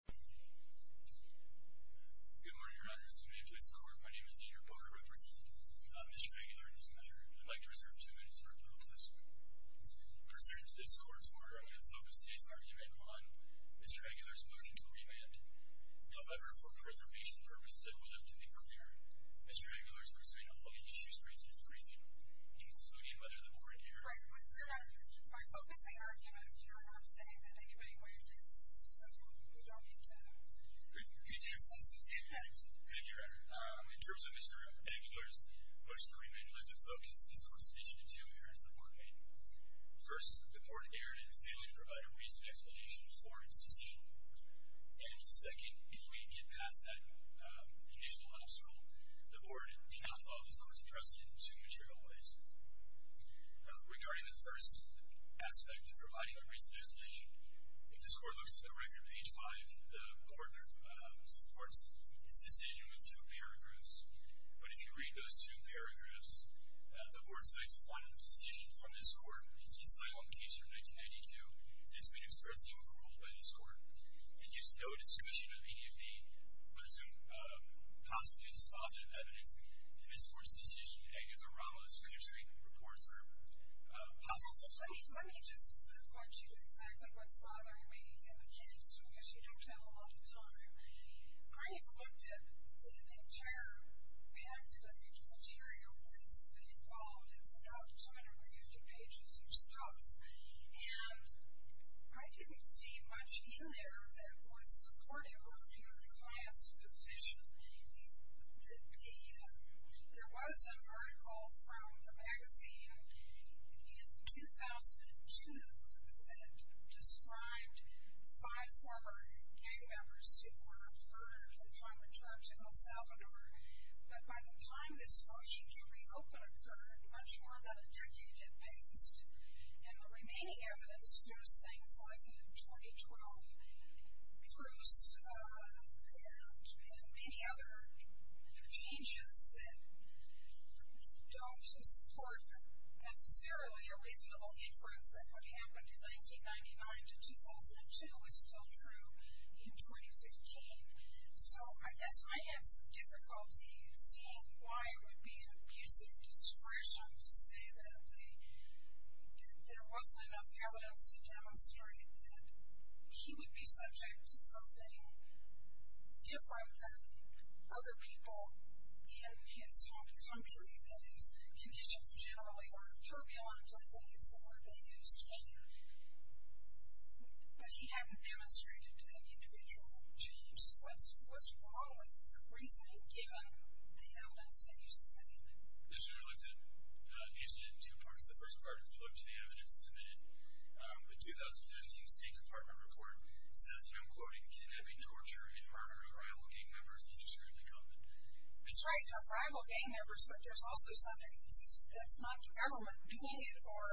Mr. Aguilar, in this measure, I'd like to reserve two minutes for a public question. Pursuant to this Court's order, I will focus today's argument on Mr. Aguilar's motion to remand. However, for preservation purposes, I will have to be clear. Mr. Aguilar is pursuing a public issue since his briefing, including a mother-of-the-born error. I would correct Mr. Aguilar by focusing our argument here on saying that anybody waived his leave, so we don't need to... Good. Could you explain some of the impact? Thank you, Your Honor. In terms of Mr. Aguilar's motion to remand, I'd like to focus this Court's attention to two areas the Court may have failed. First, the Court erred in failing to provide a reasonable explanation for its decision. And second, if we get past that conditional obstacle, the Court cannot follow this Court's precedent to material evasion. Regarding the first aspect of providing a reasonable explanation, if this Court looks to the record on page 5, the Court supports its decision with two paragraphs. But if you read those two paragraphs, the Court cites one decision from this Court. It's an asylum case from 1992, and it's been expressly overruled by this Court. It gives no description of any of the presumed possibly dispositive evidence. In this Court's decision, Aguilar, Ramos, Coonerty, reports are possible. Let me just move on to exactly what's bothering me in the case. I guess you don't have a lot of time. I looked at an entire package of material that's been involved. It's not entirely used in pages or stuff. And I didn't see much in there that was supportive of your client's position, but there was a vertical from a magazine in 2002 that described five former gang members who were murdered at the Congress Church in El Salvador. But by the time this motion's reopen occurred, much more than a decade had passed, and the remaining evidence shows things like the 2012 truce and many other changes that don't support necessarily a reasonable inference that what happened in 1999 to 2002 is still true in 2015. So I guess I had some difficulty seeing why it would be an abuse of discretion to say that there wasn't enough evidence to demonstrate that he would be subject to something different than other people in his home country, that his conditions generally aren't turbulent, I think is the word they used, but he hadn't demonstrated any individual change. What's wrong with your reasoning given the evidence that you submitted? You should have looked at pages and two parts of the first part if you looked at the evidence submitted. The 2013 State Department report says, and I'm quoting, can there be torture and murder of rival gang members is extremely common. That's right. Now, rival gang members, but there's also something that's not government doing it or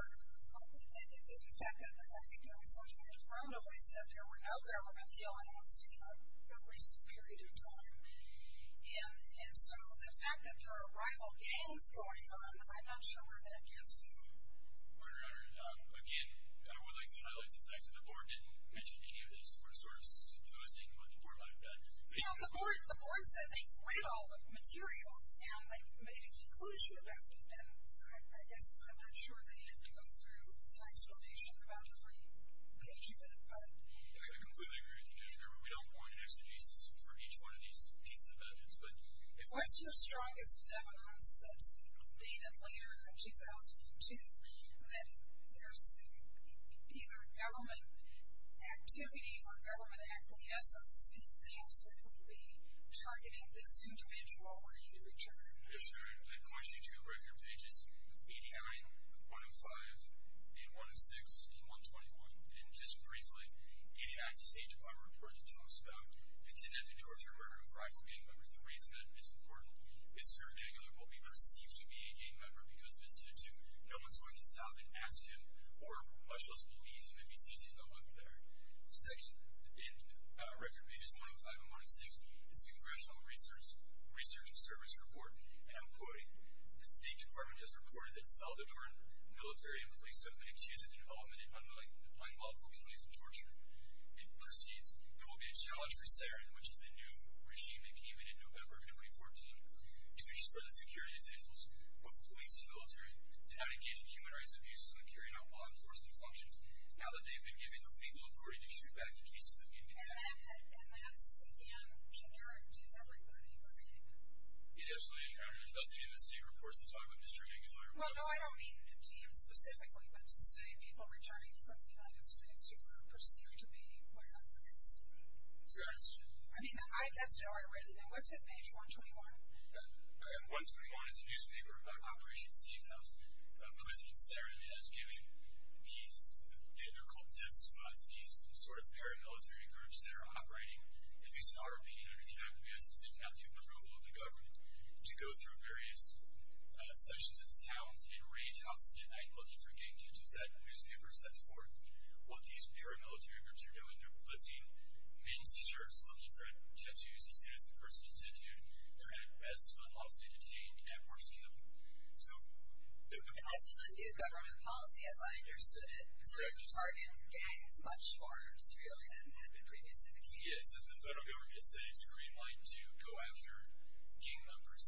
the fact that I think there was something in front of it that said there were no government killings in a recent period of time. And so the fact that there are rival gangs going on, I'm not sure where that gets to. Your Honor, again, I would like to highlight the fact that the board didn't mention any of this. We're sort of supposing what the board might have done. The board said they read all the material and they made a conclusion about it, and I guess I'm not sure they had to go through an explanation about it for each page you could put. I completely agree with you, Judge Gerber. We don't want an exegesis for each one of these pieces of evidence. What's your strongest evidence that's dated later, from 2002, that there's either government activity or government acquiescence in the things that would be targeting this individual or individual? Yes, Your Honor, I'm going to show you two record pages, page 9, 105, and 106, and 121. And just briefly, the United States Department of Defense spoke about the tendency towards the murder of rival gang members. The reason that it's important is to renege on what would be perceived to be a gang member he was visited to. No one's going to stop and ask him, or much less believe him, if he sees he's no longer there. Second, in record pages 105 and 106, is the Congressional Research and Service Report, and I'm quoting, the State Department has reported that Salvadoran military and police have been accused of involvement in unlawful police and torture. It proceeds, there will be a challenge for SARIN, which is the new regime that came in in November of 2014, to ensure the security of officials, both police and military, to not engage in human rights abuses and carry out law enforcement functions now that they've been given the legal authority to shoot back in cases of gang attack. And that's, again, generic to everybody, right? It is, Your Honor. There's nothing in the state reports that talk about disturbing a lawyer. Well, no, I don't mean the new regime specifically, but to say people returning from the United States are going to be perceived to be lawyers. Yes. I mean, that's an order written in. What's it, page 121? Page 121 is a newspaper about Operation Seathouse. President SARIN has given these, they're called dead spots, these sort of paramilitary groups that are operating, at least in our opinion under the United States, if not the approval of the government, to go through various sections of towns and raid houses at night looking for gang tattoos. That newspaper sets forth what these paramilitary groups are doing. They're lifting men's shirts looking for tattoos. As soon as the person is tattooed, they're at rest unless they're detained and forced to kill. I see the new government policy, as I understood it, to target gangs much more severely than had been previously the case. Yes, as the federal government has said, it's a green light to go after gang members.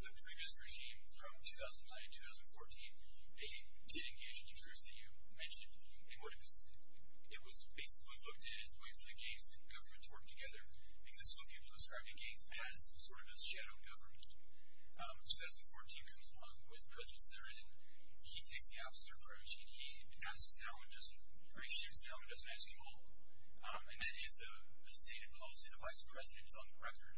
The previous regime from 2009 to 2014, they did engage in the truce that you mentioned. It was basically looked at as a way for the government to work together because some people described the gangs as sort of a shadow government. 2014 comes along with President SARIN. He takes the opposite approach. He shoots down and doesn't ask him off. And that is the stated policy. The vice president is on the record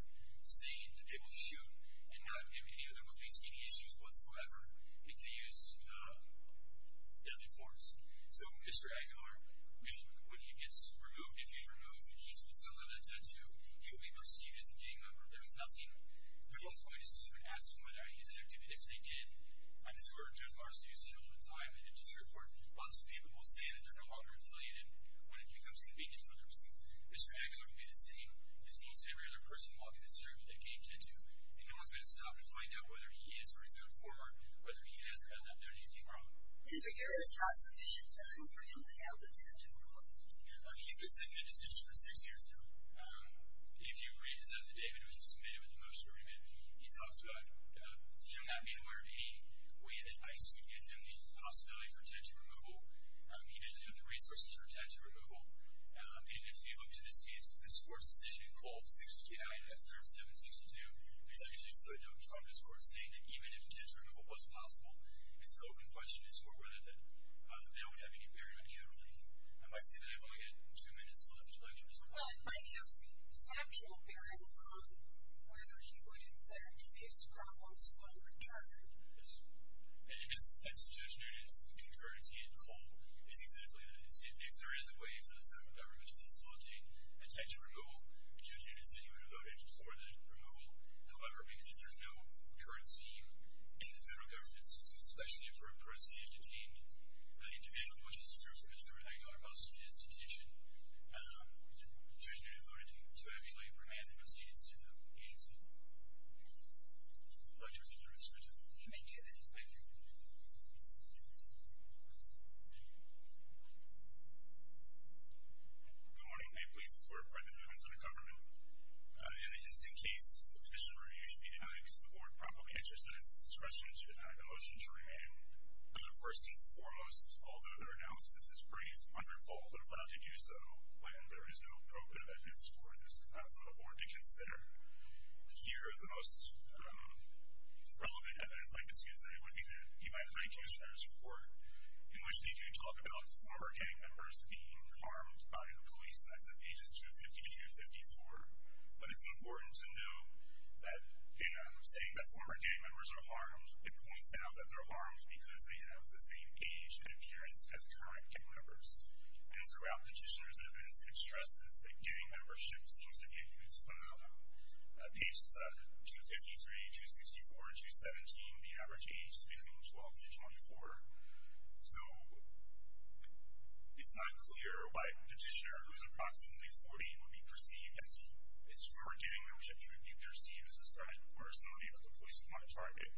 saying that they will shoot and not have him in any other movies, any issues whatsoever, if they use deadly force. So Mr. Aguilar will, when he gets removed, if he's removed and he still has a tattoo, he will be able to see it as a gang member. There's nothing. They're also going to sue and ask him whether he's an activist. If they did, I'm sure Judge Marcellino said it all the time in the district court, lots of people will say that they're no longer affiliated when it becomes convenient for them. Mr. Aguilar will be the same as most every other person walking this street with a gang tattoo, and no one's going to stop and find out whether he is or is not a former, whether he has or has not done anything wrong. Is there any response that you should have done for him to have the tattoo removed? He's been sitting in detention for six years now. If you read his affidavit, which was submitted with a motion to remove him, he talks about he will not be aware of any way that ICE would give him the possibility for tattoo removal. He doesn't have the resources for tattoo removal. And if you look to this case, this court's decision called 629-F3762, there's actually a footnote from this court saying that even if tattoo removal was possible, it's an open question as to whether or not the bail would have any bearing on him. I see that I've only got two minutes left. Would you like to respond? Well, it might have factual bearing on whether he would in fact face probable splatter in charge. Yes. I guess that's Judge Noonan's concurrency in the court. It's exactly that. If there is a way for the federal government to facilitate a tattoo removal, Judge Noonan said he would have voted for the removal. However, because there's no current scheme in the federal government system, especially for a proceeded detainee, the individual motion serves as a renegotiation of his detention. Judge Noonan voted to actually grant the proceedings to the agency. The floor is yours, Judge. Thank you. Thank you. Good morning. I'm pleased to report that Judge Noonan is under government. In this case, the petitioner, you should be happy because the board probably answers to this question. You did not have a motion to remain. First and foremost, although their analysis is brief, I'm reported to have voted to do so, when there is no appropriate evidence for the board to consider. Here, the most relevant evidence, I'd like to say, would be that you might find King's Travis Report, in which they do talk about former gang members being harmed by the police. That's at pages 250 to 254. But it's important to note that in saying that former gang members are harmed, it points out that they're harmed because they have the same age and appearance as current gang members. And throughout the petitioner's evidence, it stresses that gang membership seems to be at least fundamental. Pages 253, 264, and 217, the average age is between 12 and 24. So it's not clear why a petitioner who is approximately 40 would be perceived as former gang members, if he would be perceived as that or somebody that the police would want to target.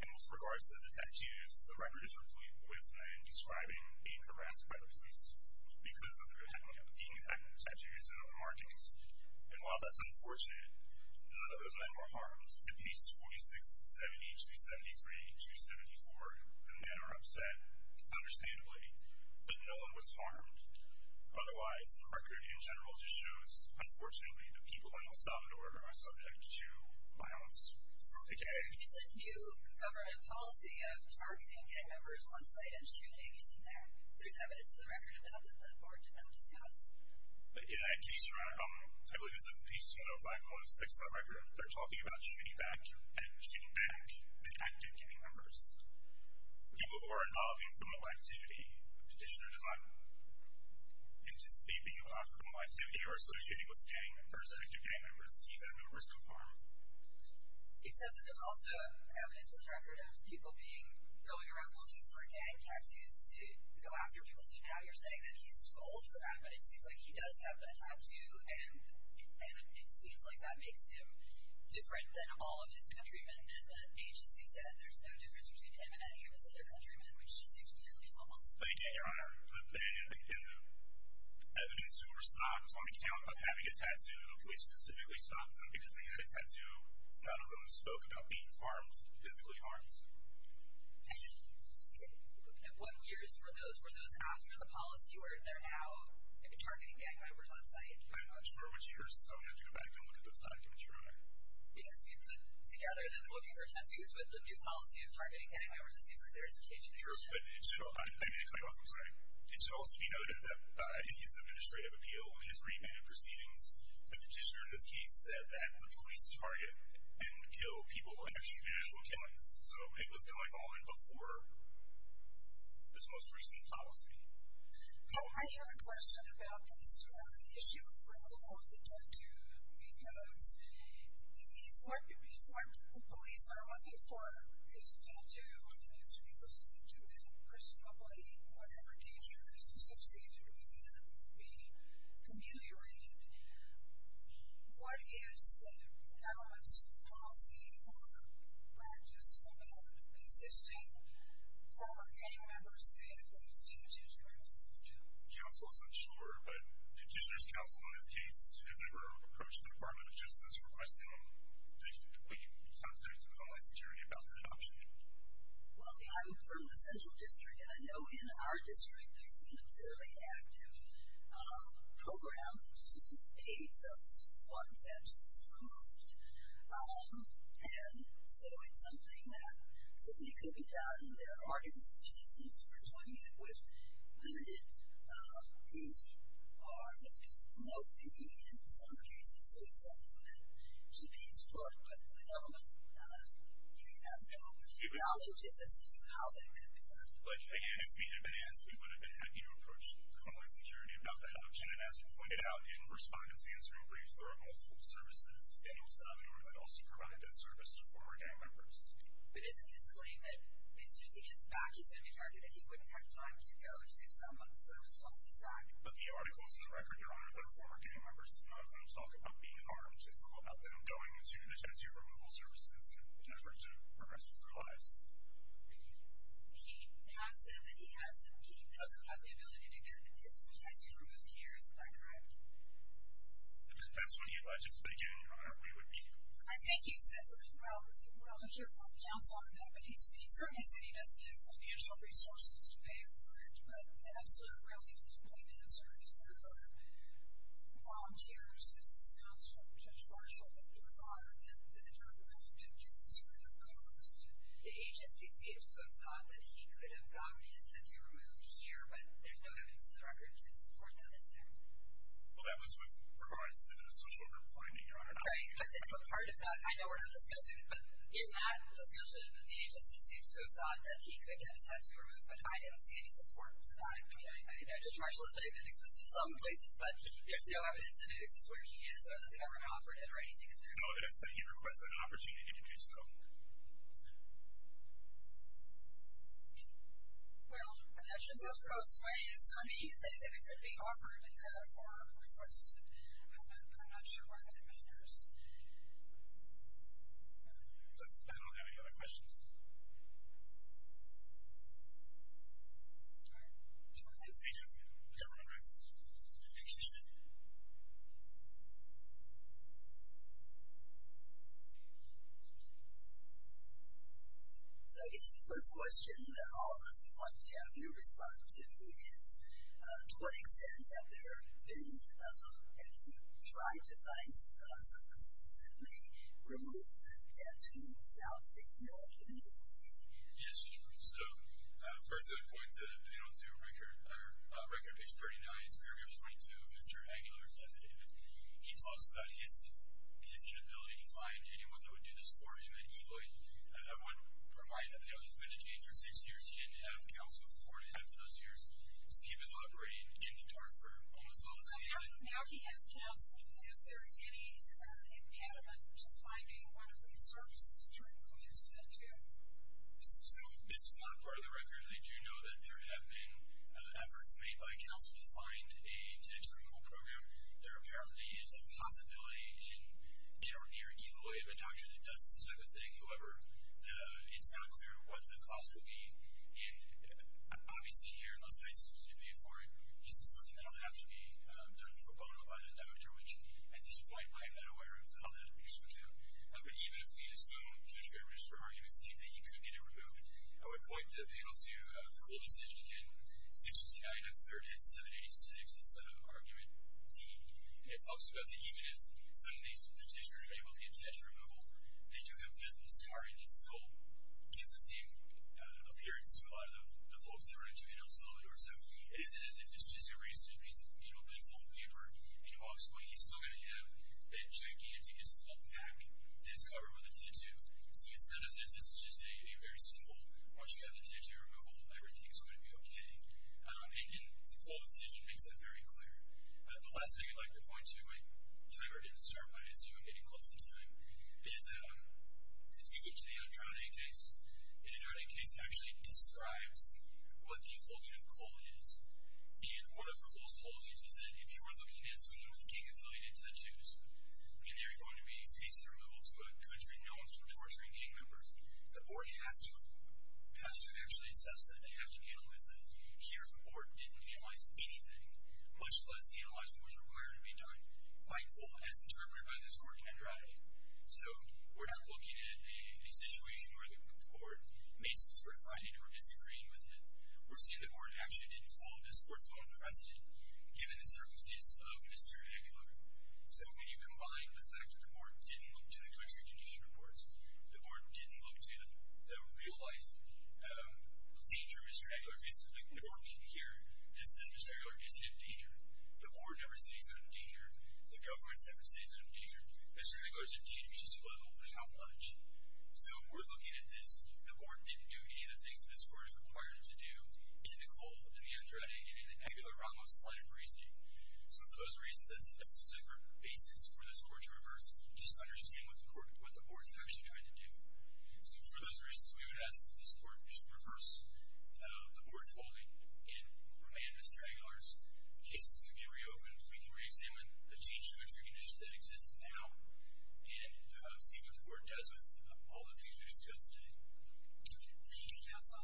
In most regards to the tattoos, the record is replete with men describing being harassed by the police because of their having had tattoos in other markings. And while that's unfortunate, none of those men were harmed. In pages 46, 70, HB 73, HB 74, the men are upset, understandably, but no one was harmed. Otherwise, the record in general just shows, unfortunately, the people in El Salvador are subject to violence from the gang. There is a new government policy of targeting gang members once they end shooting. Isn't there? There's evidence in the record of that that the board did not discuss. I believe it's in page 205, 206 of that record. They're talking about shooting back at active gang members, people who are involved in criminal activity. The petitioner does not anticipate being involved in criminal activity or associated with gang members, active gang members. He's at no risk of harm. Except that there's also evidence in the record of people going around looking for gang tattoos to go after people. Somehow you're saying that he's too old for that, but it seems like he does have that tattoo, and it seems like that makes him different than all of his countrymen. And the agency said there's no difference between him and any of his other countrymen, which just seems blatantly false. Thank you, Your Honor. The evidence that we're stopping is on account of having a tattoo. We specifically stopped them because they had a tattoo. None of them spoke about being harmed, physically harmed. And what years were those? Were those after the policy where they're now targeting gang members on site? I'm not sure which years. I'm going to have to go back and look at those documents, Your Honor. Because if you put together that they're looking for tattoos with the new policy of targeting gang members, it seems like there is a change in the statute. Sure, but it should also be noted that in his administrative appeal, in his remand proceedings, the petitioner in this case said that the police target and kill people for extrajudicial killings. So it was going on before this most recent policy. Well, I have a question about this issue of removal of the tattoo, because we've been informed that the police are looking for a recent tattoo. I mean, that's really due to personal blame, and whatever danger is associated with it would be communally related. What is the government's policy or practice about assisting former gang members to get those tattoos removed? Counsel is unsure, but the petitioner's counsel in this case has never approached the Department of Justice requesting that we contact the Homeland Security about their adoption. Well, I'm from the Central District, and I know in our district there's been a fairly active program to aid those who want tattoos removed. And so it's something that certainly could be done. There are organizations who are doing it with limited fee, or maybe no fee in some cases, so it's something that should be explored. But the government has no knowledge as to how that could have been done. Again, if we had been asked, we would have been happy to approach the Homeland Security about the adoption. And as we pointed out in a respondent's answering brief, there are multiple services in El Salvador that also provide this service to former gang members. But isn't his claim that as soon as he gets back, he's going to be targeted, he wouldn't have time to go to some service once he's back? But the article is on the record, Your Honor, that former gang members do not have time to talk about being harmed. It's all about them going to the tattoo removal services in an effort to progress with their lives. He has said that he has them. He doesn't have the ability to get his tattoo removed here. Isn't that correct? If that's what you'd like to speak in, Your Honor, we would be happy to. I think he said that. Well, we'll have to hear from counsel on that. But he certainly said he doesn't have the financial resources to pay for it, but absolutely, really, the complete answer is there are volunteers, as it sounds from Judge Marshall, that there are that are willing to do this for no cost. The agency seems to have thought that he could have gotten his tattoo removed here, but there's no evidence in the record to support that, is there? Well, that was what provides to the social reporting, Your Honor. Right, but part of that, I know we're not discussing it, but in that discussion, the agency seems to have thought that he could get his tattoo removed, but I didn't see any support for that. I mean, Judge Marshall has said that it exists in some places, but there's no evidence that it exists where he is or that they've ever offered it or anything, is there? No, he didn't say he'd request an opportunity to do so. Well, I'm not sure if that goes both ways. I mean, he did say that it could be offered or requested. I'm not sure whether that matters. I don't have any other questions. All right. I'm going to leave the stage open. If you have any questions, please do. So I guess the first question that all of us want to have you respond to is to what extent have you tried to find services that may remove the tattoo without saying you're an employee? Yes, so first I would point the panel to Record Page 39, it's paragraph 22 of Mr. Aguilar's affidavit. He talks about his inability to find anyone that would do this for him, and Eloy, I would remind the panel, he's been detained for six years. He didn't have counsel for four and a half of those years. So he was operating in the dark for almost all of his life. Now he has counsel. Is there any impediment to finding one of these services to remove his tattoo? So this is not part of the record. I do know that there have been efforts made by counsel to find a tattoo removal program. There apparently is a possibility in Aaron here, Eloy, of a doctor that does this type of thing. However, it's not clear what the cost would be. And obviously here in Las Vegas, this is something that will have to be done for bono by the doctor, which at this point I'm not aware of how that would work out. But even if we assume, Judge, you're going to register an argument saying that he could get it removed, I would point the panel to the Cool Decision in section 39 of 38786. It's an argument. It talks about that even if some of these dentists are able to get a tattoo removal, they do him just as far in his goal. It gives the same appearance to a lot of the folks So it's just a piece of pencil and paper. And obviously what he's still going to have, that gigantic, as it's called, pack, is covered with a tattoo. So it's not as if this is just a very simple, once you have the tattoo removal, everything is going to be okay. And the Cool Decision makes that very clear. The last thing I'd like to point to, my timer didn't start, but I assume I'm getting close in time, is if you get to the Androne case, the Androne case actually describes what the holding of coal is. And one of coal's holdings is that if you were looking at someone with gang-affiliated tattoos, and they were going to be facing removal to a country known for torturing gang members, the board has to actually assess that. They have to analyze that. Here the board didn't analyze anything, much less the analyzing was required to be done by coal, as interpreted by this court in Androne. So we're not looking at a situation where the board made some sort of finding or disagreed with it. We're seeing the board actually didn't fall into this court's own precedent, given the circumstances of Mr. Eggler. So when you combine the fact that the board didn't look to the country condition reports, the board didn't look to the real-life danger Mr. Eggler faces, like the court here, this is Mr. Eggler facing a danger, the board never sees him in danger, the government never sees him in danger, Mr. Eggler's in danger, just a little, but how much? So if we're looking at this, the board didn't do any of the things that this court is required to do in the coal, in the Androne, and in the Aguilar-Ramos-Saleh-Brisdy. So for those reasons, that's a separate basis for this court to reverse, just to understand what the board's actually trying to do. So for those reasons, we would ask that this court just reverse the board's holding and remain Mr. Eggler's. In case we can reopen, if we can reexamine the change-of-country conditions that exist now and see what the board does with all the things we discussed today. Thank you, counsel.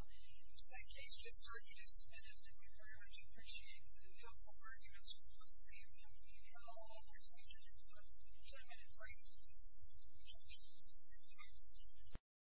That case just started, you just submitted it, and we very much appreciate the helpful arguments from both of you. Now, I'll let your time end, but if your time ended for you, please return to your seats. Thank you.